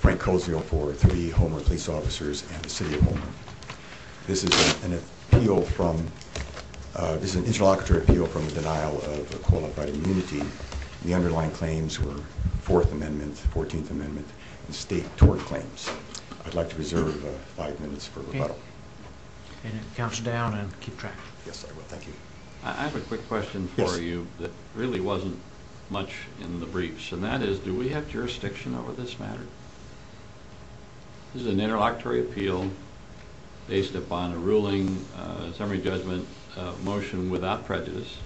Frank Cozio for three Homer police officers and the City of Homer. This is an interlocutory appeal from the denial of qualified immunity. The underlying claims were Fourth Amendment, Fourteenth Amendment, and state tort claims. I'd like to reserve five minutes for rebuttal. Okay. And it counts down and keep track. Yes, I will. Thank you. I have a quick question for you that really wasn't much in the briefs. And that is, do we have jurisdiction over this matter? This is an interlocutory appeal based upon a ruling, a summary judgment motion without prejudice.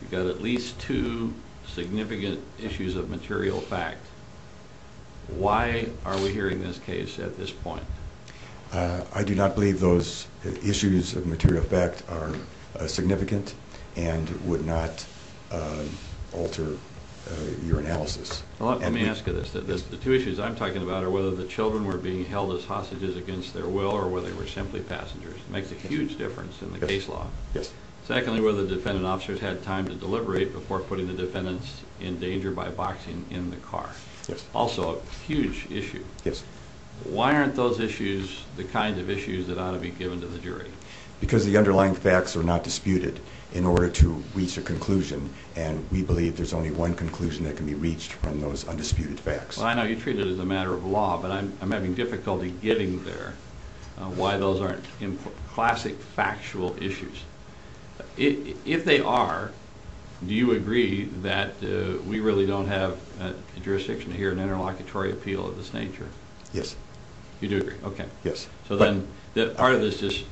You've got at least two significant issues of material fact. Why are we hearing this case at this point? I do not believe those issues of material fact are significant and would not alter your analysis. Let me ask you this. The two issues I'm talking about are whether the children were being held as hostages against their will or whether they were simply passengers. It makes a huge difference in the case law. Secondly, whether the defendant officers had time to deliberate before putting the defendants in danger by boxing in the car. Also, a huge issue. Yes. Why aren't those issues the kinds of issues that ought to be given to the jury? Because the underlying facts are not disputed in order to reach a conclusion. And we believe there's only one conclusion that can be reached from those undisputed facts. Well, I know you treat it as a matter of law, but I'm having difficulty getting there why those aren't classic factual issues. If they are, do you agree that we really don't have a jurisdiction to hear an interlocutory appeal of this nature? Yes. You do agree? Okay. Yes. So then part of this just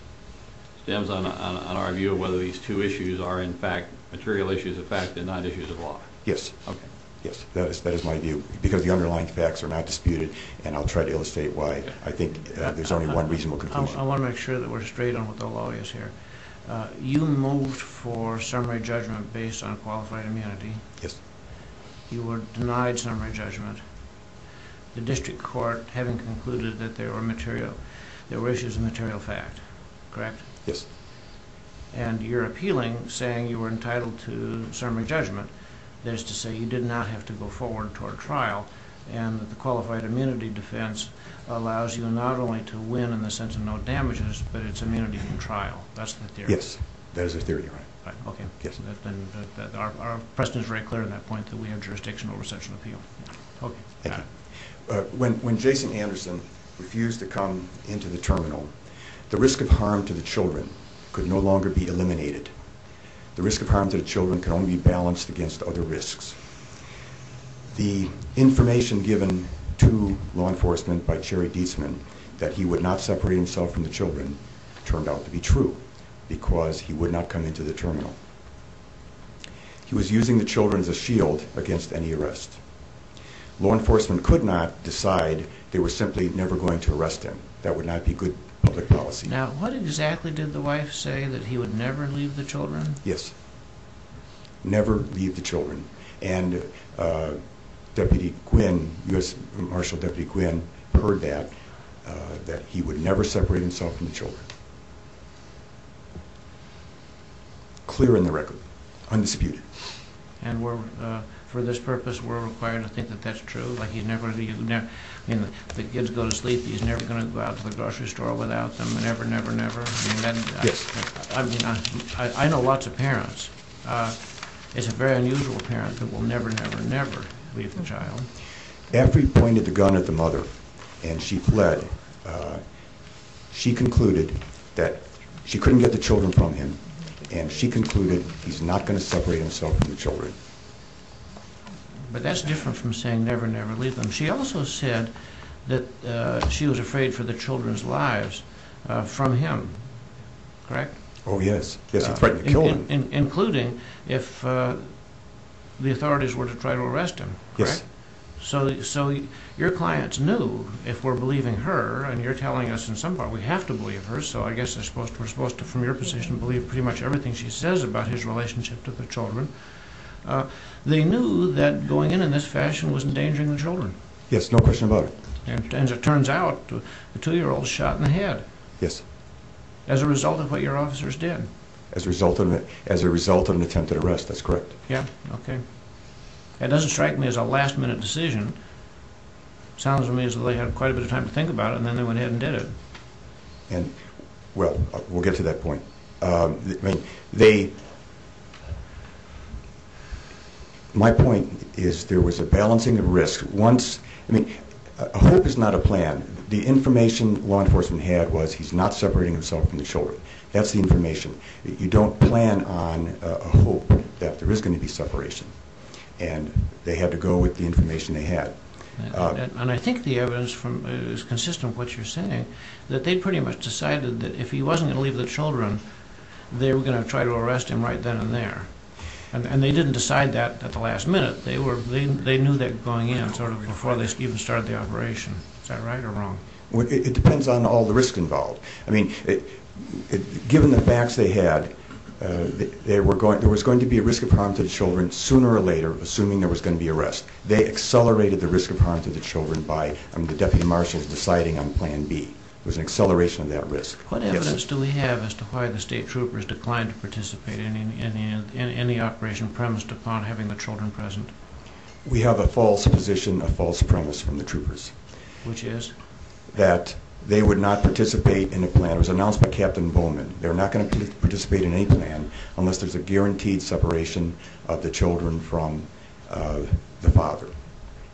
stems on our view of whether these two issues are, in fact, material issues of fact and not issues of law. Yes. Okay. Yes, that is my view. Because the underlying facts are not disputed, and I'll try to illustrate why I think there's only one reasonable conclusion. I want to make sure that we're straight on what the law is here. You moved for summary judgment based on qualified immunity. Yes. You were denied summary judgment. The district court, having concluded that there were issues of material fact, correct? Yes. And you're appealing, saying you were entitled to summary judgment. That is to say you did not have to go forward toward trial, and the qualified immunity defense allows you not only to win in the sense of no damages, but it's immunity from trial. That's the theory? Yes. That is the theory, Your Honor. Okay. Yes. Our precedent is very clear on that point, that we have jurisdiction over such an appeal. Okay. Thank you. When Jason Anderson refused to come into the terminal, the risk of harm to the children could no longer be eliminated. The risk of harm to the children can only be balanced against other risks. The information given to law enforcement by Jerry Dietzman that he would not separate himself from the children turned out to be true because he would not come into the terminal. He was using the children as a shield against any arrest. Law enforcement could not decide they were simply never going to arrest him. That would not be good public policy. Now, what exactly did the wife say, that he would never leave the children? Yes, never leave the children. And Deputy Quinn, U.S. Marshal Deputy Quinn, heard that, that he would never separate himself from the children. Clear in the record. Undisputed. And for this purpose, we're required to think that that's true? I mean, the kids go to sleep, he's never going to go out to the grocery store without them? Never, never, never? Yes. I mean, I know lots of parents. It's a very unusual parent that will never, never, never leave the child. After he pointed the gun at the mother and she fled, she concluded that she couldn't get the children from him, and she concluded he's not going to separate himself from the children. But that's different from saying never, never leave them. She also said that she was afraid for the children's lives from him, correct? Oh, yes. Yes, he threatened to kill them. Including if the authorities were to try to arrest him, correct? Yes. So your clients knew if we're believing her, and you're telling us in some part we have to believe her, so I guess we're supposed to, from your position, believe pretty much everything she says about his relationship to the children. They knew that going in in this fashion was endangering the children. Yes, no question about it. And as it turns out, the two-year-old shot in the head. Yes. As a result of what your officers did. As a result of an attempted arrest, that's correct. Yeah, okay. That doesn't strike me as a last-minute decision. It sounds to me as though they had quite a bit of time to think about it, and then they went ahead and did it. Well, we'll get to that point. They – my point is there was a balancing of risks. Once – I mean, hope is not a plan. The information law enforcement had was he's not separating himself from the children. That's the information. You don't plan on hope that there is going to be separation. And they had to go with the information they had. And I think the evidence is consistent with what you're saying, that they pretty much decided that if he wasn't going to leave the children, they were going to try to arrest him right then and there. And they didn't decide that at the last minute. They knew that going in sort of before they even started the operation. Is that right or wrong? It depends on all the risk involved. I mean, given the facts they had, there was going to be a risk of harm to the children sooner or later, assuming there was going to be arrest. They accelerated the risk of harm to the children by the deputy marshals deciding on plan B. It was an acceleration of that risk. What evidence do we have as to why the state troopers declined to participate in any operation premised upon having the children present? We have a false position, a false premise from the troopers. Which is? That they would not participate in the plan. It was announced by Captain Bowman. They're not going to participate in any plan unless there's a guaranteed separation of the children from the father.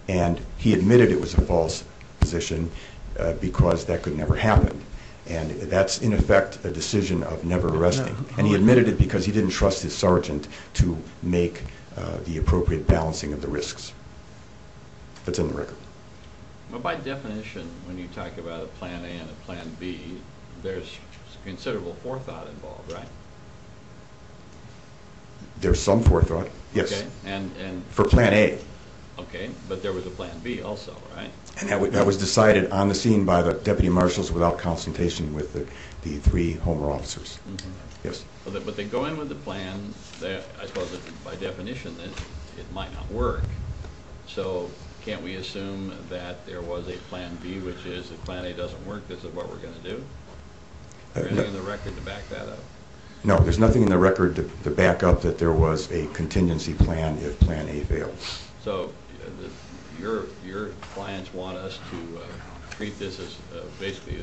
And he admitted it was a false position because that could never happen. And that's, in effect, a decision of never arresting. And he admitted it because he didn't trust his sergeant to make the appropriate balancing of the risks. That's in the record. Well, by definition, when you talk about a plan A and a plan B, there's considerable forethought involved, right? There's some forethought, yes. Okay, and? For plan A. Okay, but there was a plan B also, right? And that was decided on the scene by the deputy marshals without consultation with the three Homer officers. Yes. But they go in with a plan that, I suppose, by definition, it might not work. So can't we assume that there was a plan B, which is if plan A doesn't work, this is what we're going to do? Is there anything in the record to back that up? No, there's nothing in the record to back up that there was a contingency plan if plan A failed. So your clients want us to treat this as basically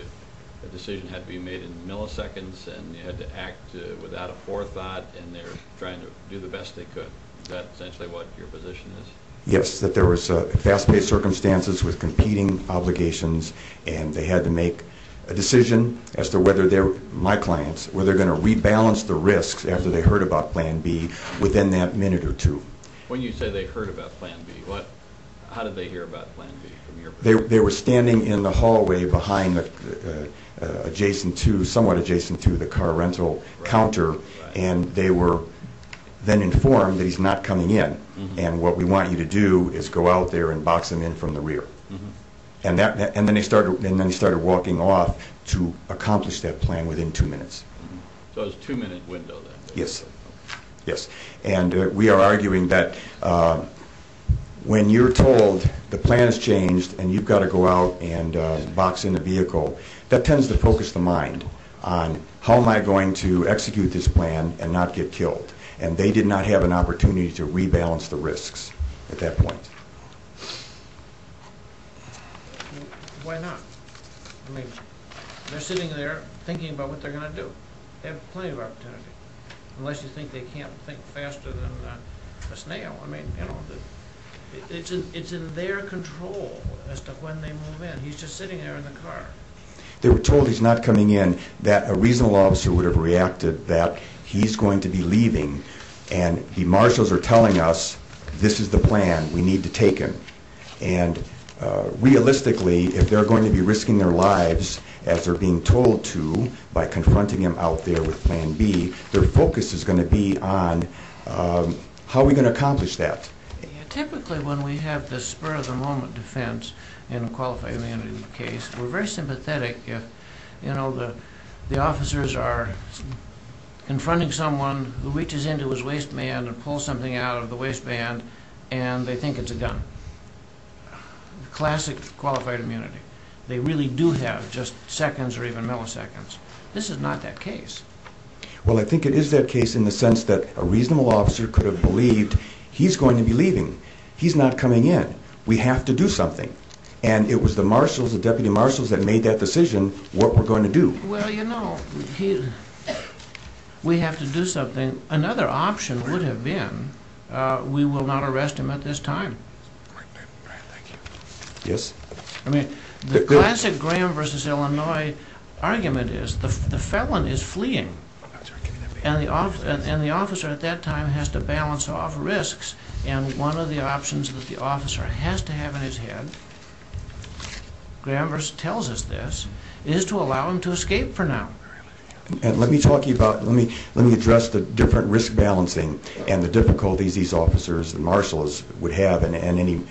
a decision had to be made in milliseconds, and you had to act without a forethought, and they're trying to do the best they could. Is that essentially what your position is? Yes, that there was fast-paced circumstances with competing obligations, and they had to make a decision as to whether they were, my clients, were they going to rebalance the risks after they heard about plan B within that minute or two. When you say they heard about plan B, how did they hear about plan B from your perspective? They were standing in the hallway behind somewhat adjacent to the car rental counter, and they were then informed that he's not coming in, and what we want you to do is go out there and box him in from the rear. And then he started walking off to accomplish that plan within two minutes. So it was a two-minute window then? Yes. And we are arguing that when you're told the plan has changed and you've got to go out and box in the vehicle, that tends to focus the mind on how am I going to execute this plan and not get killed, and they did not have an opportunity to rebalance the risks at that point. Why not? I mean, they're sitting there thinking about what they're going to do. They have plenty of opportunity, unless you think they can't think faster than a snail. I mean, you know, it's in their control as to when they move in. He's just sitting there in the car. They were told he's not coming in, that a reasonable officer would have reacted that he's going to be leaving, and the marshals are telling us this is the plan, we need to take him. And realistically, if they're going to be risking their lives, as they're being told to, by confronting him out there with Plan B, their focus is going to be on how are we going to accomplish that. Typically when we have the spur-of-the-moment defense in a qualified immunity case, we're very sympathetic if, you know, the officers are confronting someone who reaches into his waistband and pulls something out of the waistband and they think it's a gun. Classic qualified immunity. They really do have just seconds or even milliseconds. This is not that case. Well, I think it is that case in the sense that a reasonable officer could have believed he's going to be leaving. He's not coming in. We have to do something. And it was the marshals, the deputy marshals, that made that decision what we're going to do. Well, you know, we have to do something. And another option would have been we will not arrest him at this time. Yes. I mean, the classic Graham v. Illinois argument is the felon is fleeing, and the officer at that time has to balance off risks. And one of the options that the officer has to have in his head, Graham tells us this, is to allow him to escape for now. And let me talk to you about, let me address the different risk balancing and the difficulties these officers and marshals would have and any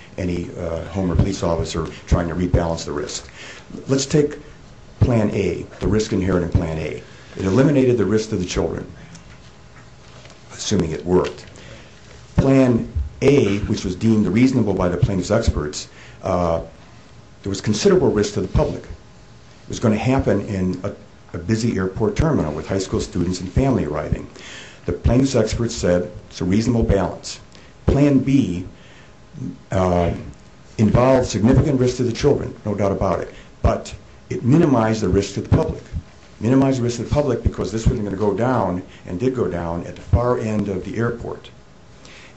home or police officer trying to rebalance the risk. Let's take plan A, the risk inherent in plan A. It eliminated the risk to the children, assuming it worked. Plan A, which was deemed reasonable by the plaintiff's experts, there was considerable risk to the public. It was going to happen in a busy airport terminal with high school students and family arriving. The plaintiff's experts said it's a reasonable balance. Plan B involved significant risk to the children, no doubt about it, but it minimized the risk to the public. It minimized the risk to the public because this was going to go down and did go down at the far end of the airport.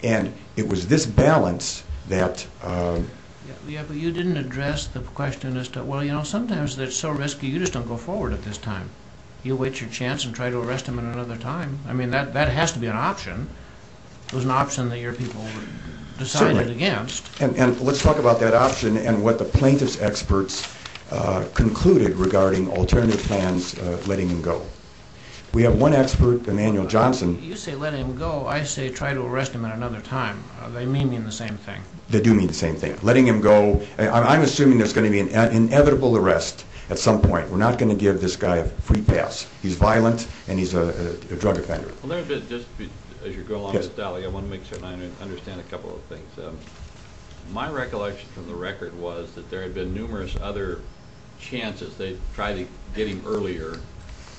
And it was this balance that... If it's so risky, you just don't go forward at this time. You wait your chance and try to arrest him at another time. I mean, that has to be an option. It was an option that your people decided against. And let's talk about that option and what the plaintiff's experts concluded regarding alternative plans, letting him go. We have one expert, Emanuel Johnson... You say letting him go. I say try to arrest him at another time. They mean the same thing. They do mean the same thing. I'm assuming there's going to be an inevitable arrest at some point. We're not going to give this guy a free pass. He's violent, and he's a drug offender. Let me just, as you go along, Mr. Daly, I want to make sure I understand a couple of things. My recollection from the record was that there had been numerous other chances. They tried to get him earlier,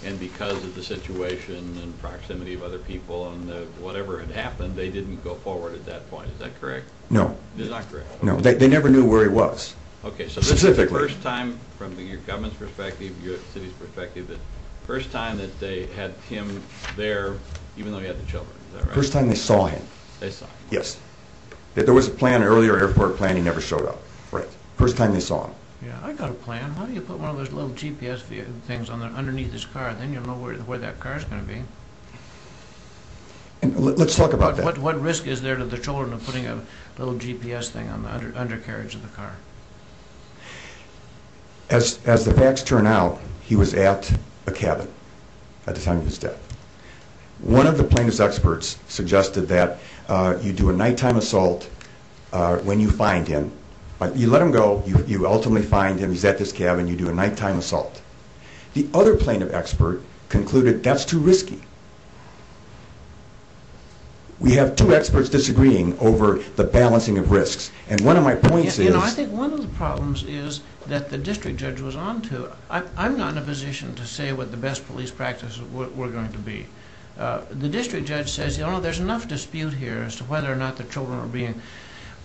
and because of the situation and proximity of other people and whatever had happened, they didn't go forward at that point. Is that correct? No. That's not correct. No, they never knew where he was. Okay, so this is the first time from your government's perspective, your city's perspective, the first time that they had him there, even though he had the children, is that right? First time they saw him. They saw him. Yes. There was a plan, an earlier airport plan, he never showed up. Right. First time they saw him. Yeah, I got a plan. Why don't you put one of those little GPS things underneath his car? Then you'll know where that car's going to be. Let's talk about that. What risk is there to the children of putting a little GPS thing on the undercarriage of the car? As the facts turn out, he was at a cabin at the time of his death. One of the plaintiff's experts suggested that you do a nighttime assault when you find him. You let him go, you ultimately find him, he's at this cabin, you do a nighttime assault. The other plaintiff expert concluded that's too risky. We have two experts disagreeing over the balancing of risks, and one of my points is... I think one of the problems is that the district judge was on to... I'm not in a position to say what the best police practices were going to be. The district judge says, you know, there's enough dispute here as to whether or not the children are being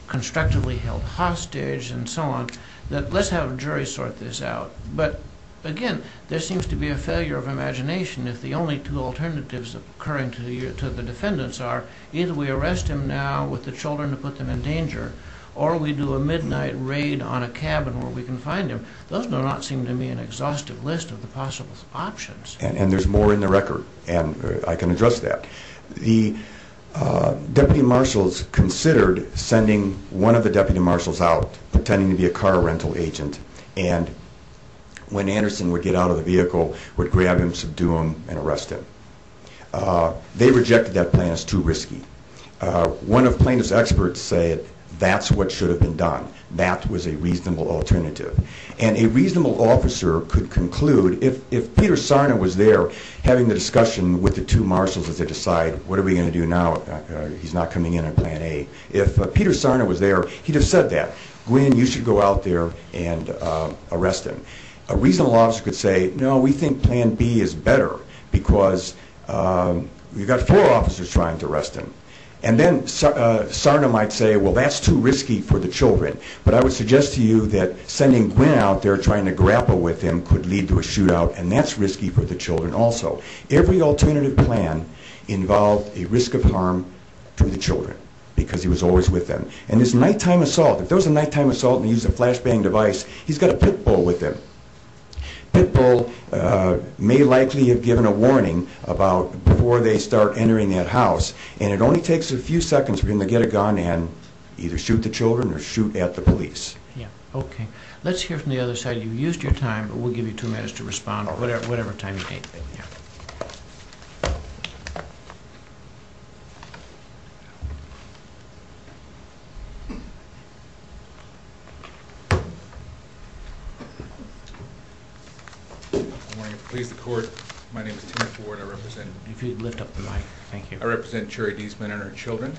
constructively held hostage and so on, that let's have a jury sort this out. But, again, there seems to be a failure of imagination if the only two alternatives occurring to the defendants are... either we arrest him now with the children to put them in danger, or we do a midnight raid on a cabin where we can find him. Those do not seem to me an exhaustive list of the possible options. And, there's more in the record, and I can address that. The deputy marshals considered sending one of the deputy marshals out, pretending to be a car rental agent. And, when Anderson would get out of the vehicle, would grab him, subdue him, and arrest him. They rejected that plan as too risky. One of plaintiff's experts said that's what should have been done. That was a reasonable alternative. And, a reasonable officer could conclude, if Peter Sarna was there having the discussion with the two marshals as they decide, what are we going to do now, he's not coming in on plan A. If Peter Sarna was there, he'd have said that. Gwen, you should go out there and arrest him. A reasonable officer could say, no, we think plan B is better because we've got four officers trying to arrest him. And then, Sarna might say, well, that's too risky for the children. But, I would suggest to you that sending Gwen out there trying to grapple with him could lead to a shootout. And, that's risky for the children also. Every alternative plan involved a risk of harm to the children because he was always with them. And, this nighttime assault, if there was a nighttime assault and he used a flashbang device, he's got a pit bull with him. Pit bull may likely have given a warning about before they start entering that house. And, it only takes a few seconds for him to get a gun and either shoot the children or shoot at the police. Yeah, okay. Let's hear from the other side. You've used your time, but we'll give you two minutes to respond, whatever time you need. Thank you. Good morning. Please, the court. My name is Tim Ford. I represent... If you'd lift up the mic. Thank you. I represent Cherry Deesman and her children.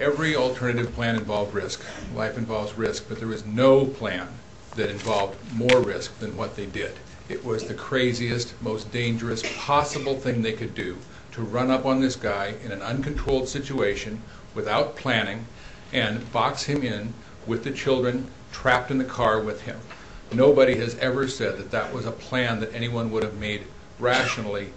Every alternative plan involved risk. Life involves risk, but there was no plan that involved more risk than what they did. It was the craziest, most dangerous possible thing they could do to run up on this guy in an uncontrolled situation without planning and box him in with the children trapped in the car with him. Nobody has ever said that that was a plan that anyone would have made rationally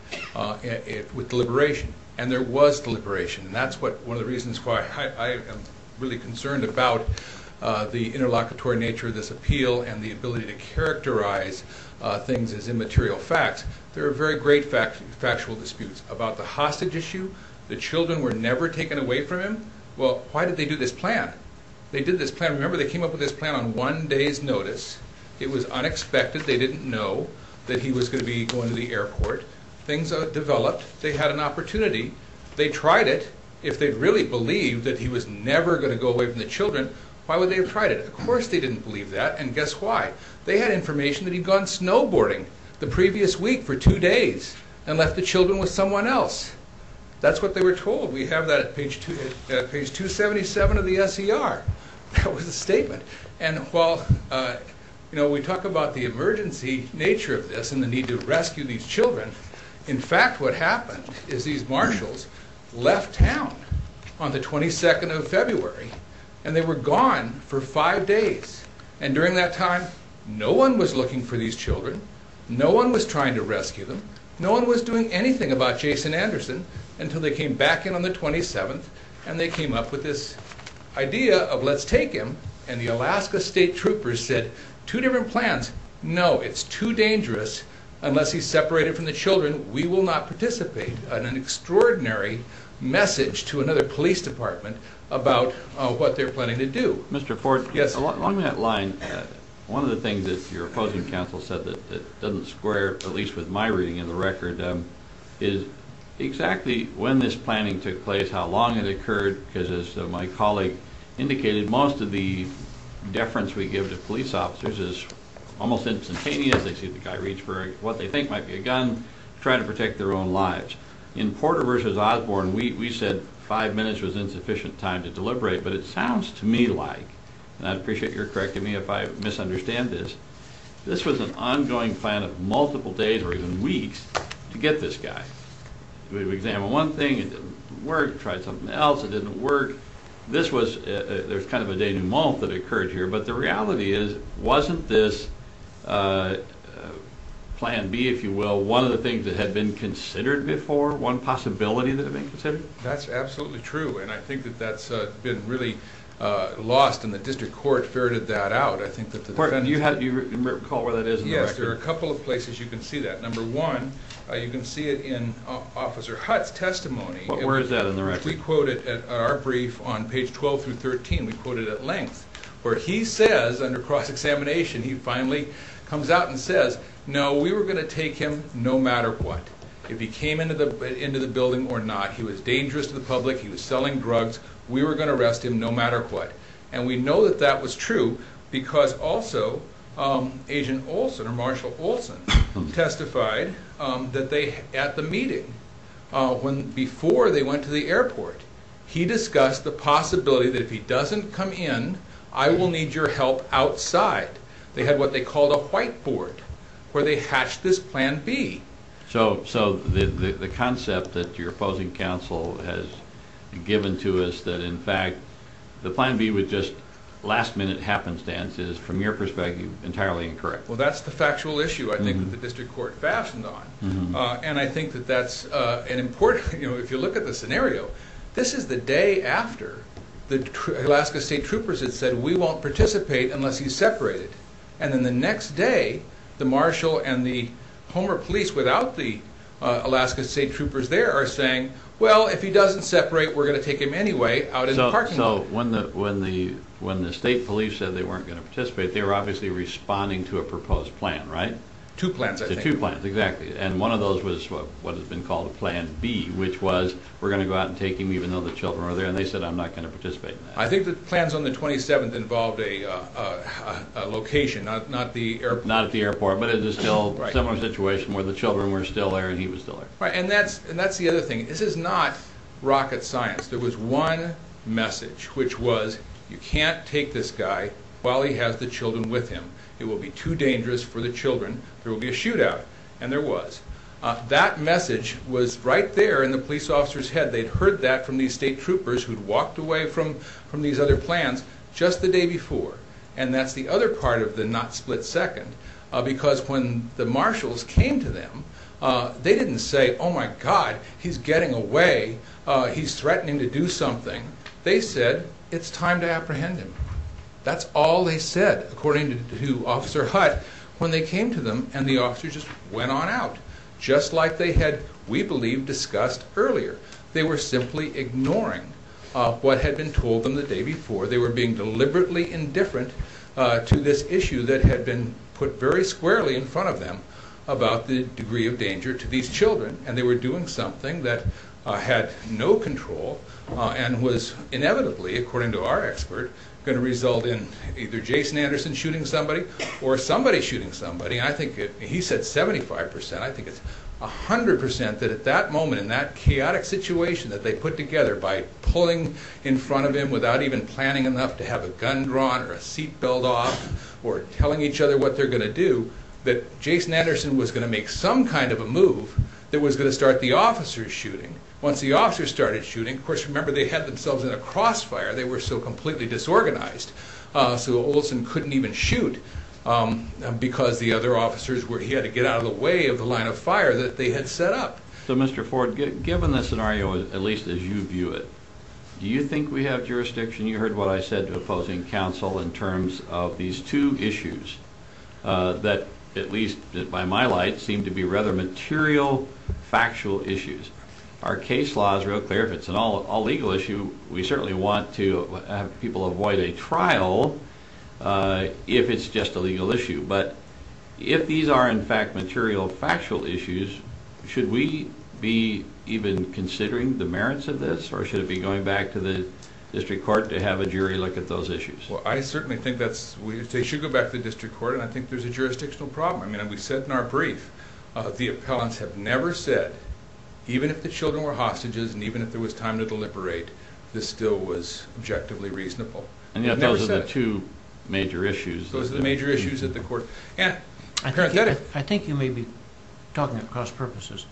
with deliberation. And there was deliberation. And that's one of the reasons why I am really concerned about the interlocutory nature of this appeal and the ability to characterize things as immaterial facts. There are very great factual disputes about the hostage issue. The children were never taken away from him. They did this plan. I remember they came up with this plan on one day's notice. It was unexpected. They didn't know that he was going to be going to the airport. Things developed. They had an opportunity. They tried it. If they really believed that he was never going to go away from the children, why would they have tried it? Of course they didn't believe that, and guess why? They had information that he'd gone snowboarding the previous week for two days and left the children with someone else. That's what they were told. We have that at page 277 of the S.E.R. That was the statement. And while we talk about the emergency nature of this and the need to rescue these children, in fact what happened is these marshals left town on the 22nd of February, and they were gone for five days. And during that time, no one was looking for these children. No one was trying to rescue them. No one was doing anything about Jason Anderson until they came back in on the 27th, and they came up with this idea of let's take him, and the Alaska State Troopers said two different plans. No, it's too dangerous unless he's separated from the children. We will not participate in an extraordinary message to another police department about what they're planning to do. Mr. Ford, along that line, one of the things that your opposing counsel said that doesn't square, at least with my reading of the record, is exactly when this planning took place, how long it occurred, because as my colleague indicated, most of the deference we give to police officers is almost instantaneous. They see the guy reach for what they think might be a gun, try to protect their own lives. In Porter v. Osborne, we said five minutes was insufficient time to deliberate, but it sounds to me like, and I'd appreciate your correcting me if I misunderstand this, this was an ongoing plan of multiple days or even weeks to get this guy. We examined one thing, it didn't work, tried something else, it didn't work. There's kind of a day and a month that occurred here, but the reality is, wasn't this plan B, if you will, one of the things that had been considered before, one possibility that had been considered? That's absolutely true, and I think that that's been really lost, and the district court ferreted that out. You recall where that is in the record? Yes, there are a couple of places you can see that. Number one, you can see it in Officer Hutt's testimony. Where is that in the record? We quote it at our brief on page 12 through 13. We quote it at length, where he says, under cross-examination, he finally comes out and says, no, we were going to take him no matter what, if he came into the building or not. He was dangerous to the public, he was selling drugs, we were going to arrest him no matter what. And we know that that was true because also Agent Olson, or Marshall Olson, testified that they, at the meeting, before they went to the airport, he discussed the possibility that if he doesn't come in, I will need your help outside. They had what they called a whiteboard, where they hatched this plan B. So the concept that your opposing counsel has given to us, that in fact, the plan B was just last-minute happenstance, is, from your perspective, entirely incorrect. Well, that's the factual issue, I think, that the district court fastened on. And I think that that's an important, you know, if you look at the scenario, this is the day after the Alaska State Troopers had said, we won't participate unless he's separated. And then the next day, the Marshall and the Homer police, without the Alaska State Troopers there, are saying, well, if he doesn't separate, we're going to take him anyway out in the parking lot. So when the state police said they weren't going to participate, they were obviously responding to a proposed plan, right? Two plans, I think. Two plans, exactly. And one of those was what has been called Plan B, which was, we're going to go out and take him even though the children are there, and they said, I'm not going to participate in that. I think the plans on the 27th involved a location, not at the airport. Not at the airport, but it is still a similar situation where the children were still there and he was still there. Right, and that's the other thing. This is not rocket science. There was one message, which was, you can't take this guy while he has the children with him. It will be too dangerous for the children. There will be a shootout. And there was. That message was right there in the police officer's head. They'd heard that from these state troopers who'd walked away from these other plans just the day before. And that's the other part of the not split second, because when the marshals came to them, they didn't say, oh my God, he's getting away. He's threatening to do something. They said, it's time to apprehend him. That's all they said, according to Officer Hutt, when they came to them. And the officer just went on out, just like they had, we believe, discussed earlier. They were simply ignoring what had been told them the day before. They were being deliberately indifferent to this issue that had been put very squarely in front of them about the degree of danger to these children. And they were doing something that had no control and was inevitably, according to our expert, going to result in either Jason Anderson shooting somebody or somebody shooting somebody. He said 75%. I think it's 100% that at that moment, in that chaotic situation that they put together, by pulling in front of him without even planning enough to have a gun drawn or a seat belt off or telling each other what they're going to do, that Jason Anderson was going to make some kind of a move that was going to start the officers shooting. Once the officers started shooting, of course, remember, they had themselves in a crossfire. They were so completely disorganized. So Olson couldn't even shoot because the other officers, he had to get out of the way of the line of fire that they had set up. So, Mr. Ford, given the scenario, at least as you view it, do you think we have jurisdiction? You heard what I said to opposing counsel in terms of these two issues that, at least by my light, seem to be rather material, factual issues. Our case law is real clear. If it's an all-legal issue, we certainly want to have people avoid a trial if it's just a legal issue. But if these are, in fact, material, factual issues, should we be even considering the merits of this or should it be going back to the district court to have a jury look at those issues? Well, I certainly think they should go back to the district court, and I think there's a jurisdictional problem. And we said in our brief, the appellants have never said, even if the children were hostages and even if there was time to deliberate, this still was objectively reasonable. Those are the two major issues. Those are the major issues at the court. I think you may be talking across purposes.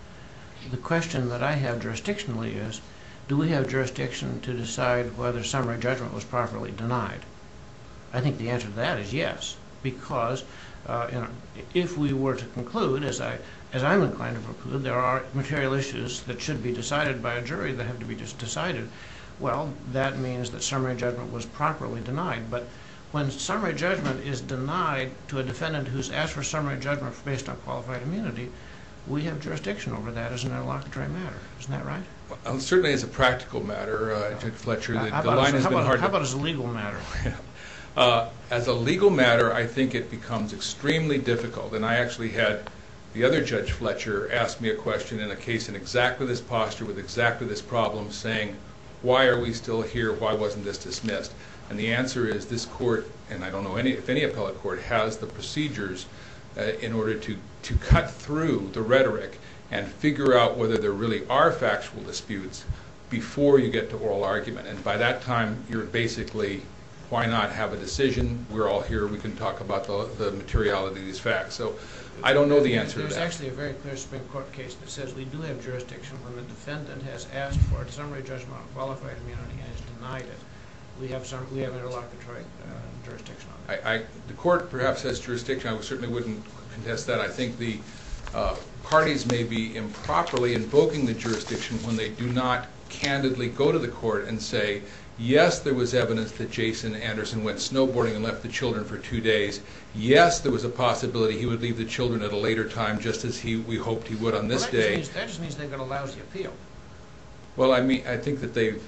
The question that I have jurisdictionally is, do we have jurisdiction to decide whether summary judgment was properly denied? I think the answer to that is yes, because if we were to conclude, as I'm inclined to conclude, there are material issues that should be decided by a jury that have to be decided, well, that means that summary judgment was properly denied. But when summary judgment is denied to a defendant who's asked for summary judgment based on qualified immunity, we have jurisdiction over that as an interlocutory matter. Isn't that right? It certainly is a practical matter, Judge Fletcher. How about as a legal matter? As a legal matter, I think it becomes extremely difficult. And I actually had the other Judge Fletcher ask me a question in a case in exactly this posture, with exactly this problem, saying, why are we still here? Why wasn't this dismissed? And the answer is this court, and I don't know if any appellate court, has the procedures in order to cut through the rhetoric and figure out whether there really are factual disputes before you get to oral argument. And by that time, you're basically, why not have a decision? We're all here. We can talk about the materiality of these facts. So I don't know the answer to that. There's actually a very clear Supreme Court case that says we do have jurisdiction when the defendant has asked for a summary judgment on qualified immunity and has denied it. We have interlocutory jurisdiction on that. The court perhaps has jurisdiction. I certainly wouldn't contest that. I think the parties may be improperly invoking the jurisdiction when they do not candidly go to the court and say, yes, there was evidence that Jason Anderson went snowboarding and left the children for two days. Yes, there was a possibility he would leave the children at a later time, just as we hoped he would on this day. Well, that just means they've got a lousy appeal. Well, I think that they've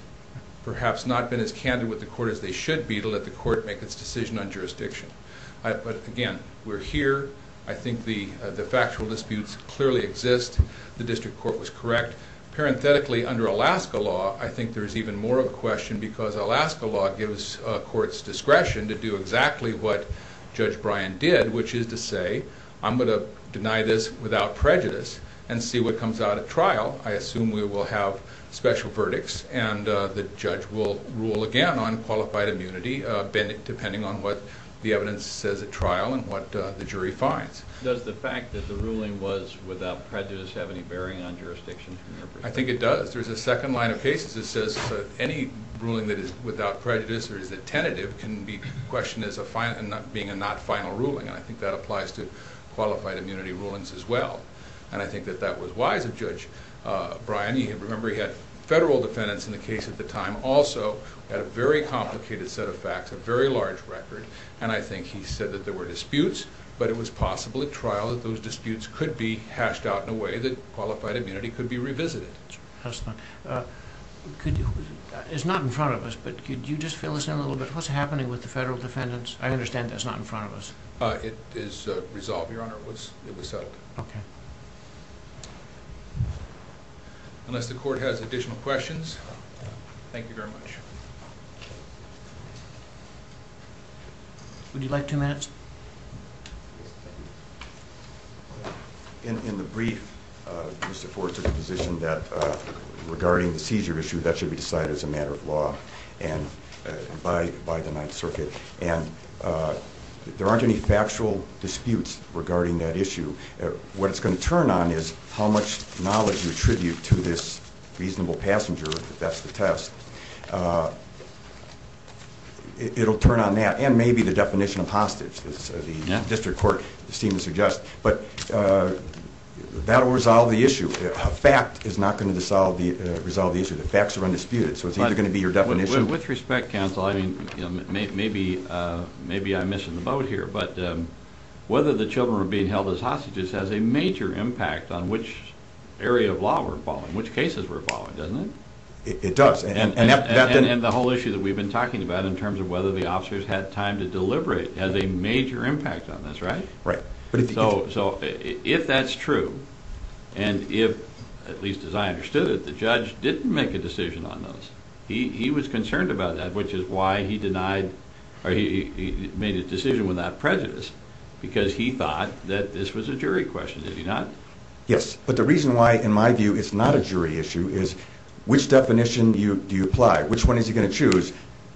perhaps not been as candid with the court as they should be to let the court make its decision on jurisdiction. But again, we're here. I think the factual disputes clearly exist. The district court was correct. Parenthetically, under Alaska law, I think there's even more of a question because Alaska law gives courts discretion to do exactly what Judge Bryan did, which is to say, I'm going to deny this without prejudice and see what comes out at trial. I assume we will have special verdicts, and the judge will rule again on qualified immunity depending on what the evidence says at trial and what the jury finds. Does the fact that the ruling was without prejudice have any bearing on jurisdiction? I think it does. There's a second line of cases that says any ruling that is without prejudice or is a tentative can be questioned as being a not final ruling, and I think that applies to qualified immunity rulings as well. And I think that that was wise of Judge Bryan. Remember, he had federal defendants in the case at the time, also had a very complicated set of facts, a very large record, and I think he said that there were disputes, but it was possible at trial that those disputes could be hashed out in a way that qualified immunity could be revisited. Excellent. It's not in front of us, but could you just fill us in a little bit? What's happening with the federal defendants? I understand that's not in front of us. It is resolved, Your Honor. It was settled. Okay. Unless the court has additional questions, thank you very much. Would you like two minutes? In the brief, Mr. Ford took the position that regarding the seizure issue, that should be decided as a matter of law and by the Ninth Circuit, and there aren't any factual disputes regarding that issue. What it's going to turn on is how much knowledge you attribute to this reasonable passenger, if that's the test. It'll turn on that, and maybe the definition of hostage, as the district court seems to suggest. But that will resolve the issue. A fact is not going to resolve the issue. The facts are undisputed, so it's either going to be your definition. With respect, counsel, maybe I'm missing the boat here, but whether the children were being held as hostages has a major impact on which area of law we're following, which cases we're following, doesn't it? It does. And the whole issue that we've been talking about in terms of whether the officers had time to deliberate has a major impact on this, right? Right. So if that's true, and if, at least as I understood it, the judge didn't make a decision on those, he was concerned about that, which is why he denied or he made a decision without prejudice, because he thought that this was a jury question, did he not? Yes, but the reason why, in my view, it's not a jury issue is which definition do you apply? Which one is he going to choose?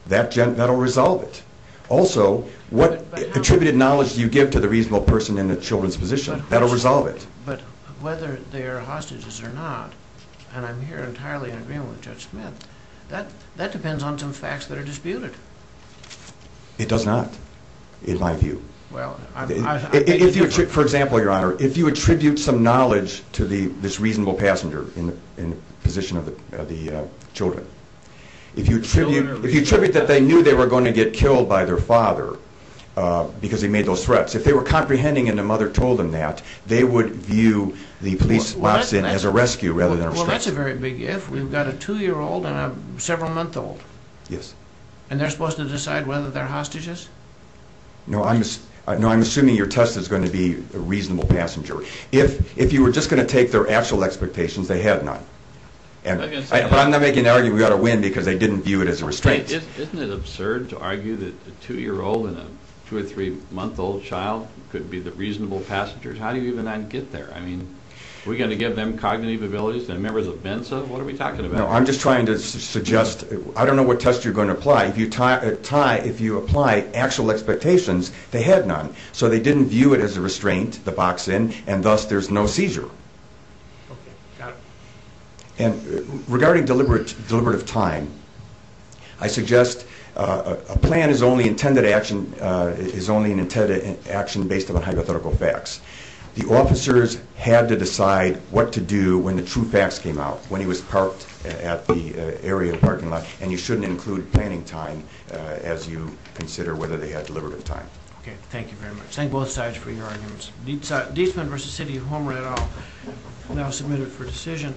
That'll resolve it. Also, what attributed knowledge do you give to the reasonable person in the children's position? That'll resolve it. But whether they're hostages or not, and I'm here entirely in agreement with Judge Smith, that depends on some facts that are disputed. It does not, in my view. For example, Your Honor, if you attribute some knowledge to this reasonable passenger in the position of the children, if you attribute that they knew they were going to get killed by their father because he made those threats, if they were comprehending and the mother told them that, they would view the police officer as a rescue rather than a restraint. Well, that's a very big if. We've got a 2-year-old and a several-month-old. Yes. And they're supposed to decide whether they're hostages? No, I'm assuming your test is going to be a reasonable passenger. If you were just going to take their actual expectations, they had none. But I'm not making the argument we ought to win because they didn't view it as a restraint. Isn't it absurd to argue that a 2-year-old and a 2- or 3-month-old child could be the reasonable passengers? How do you even not get there? I mean, are we going to give them cognitive abilities, the members of VINSA? What are we talking about? No, I'm just trying to suggest I don't know what test you're going to apply. If you apply actual expectations, they had none. So they didn't view it as a restraint, the box in, and thus there's no seizure. Okay, got it. Regarding deliberative time, I suggest a plan is only an intended action based on hypothetical facts. The officers had to decide what to do when the true facts came out, when he was parked at the area parking lot, and you shouldn't include planning time as you consider whether they had deliberative time. Okay, thank you very much. Thank both sides for your arguments. Dietzman v. City of Homer, et al., now submitted for decision.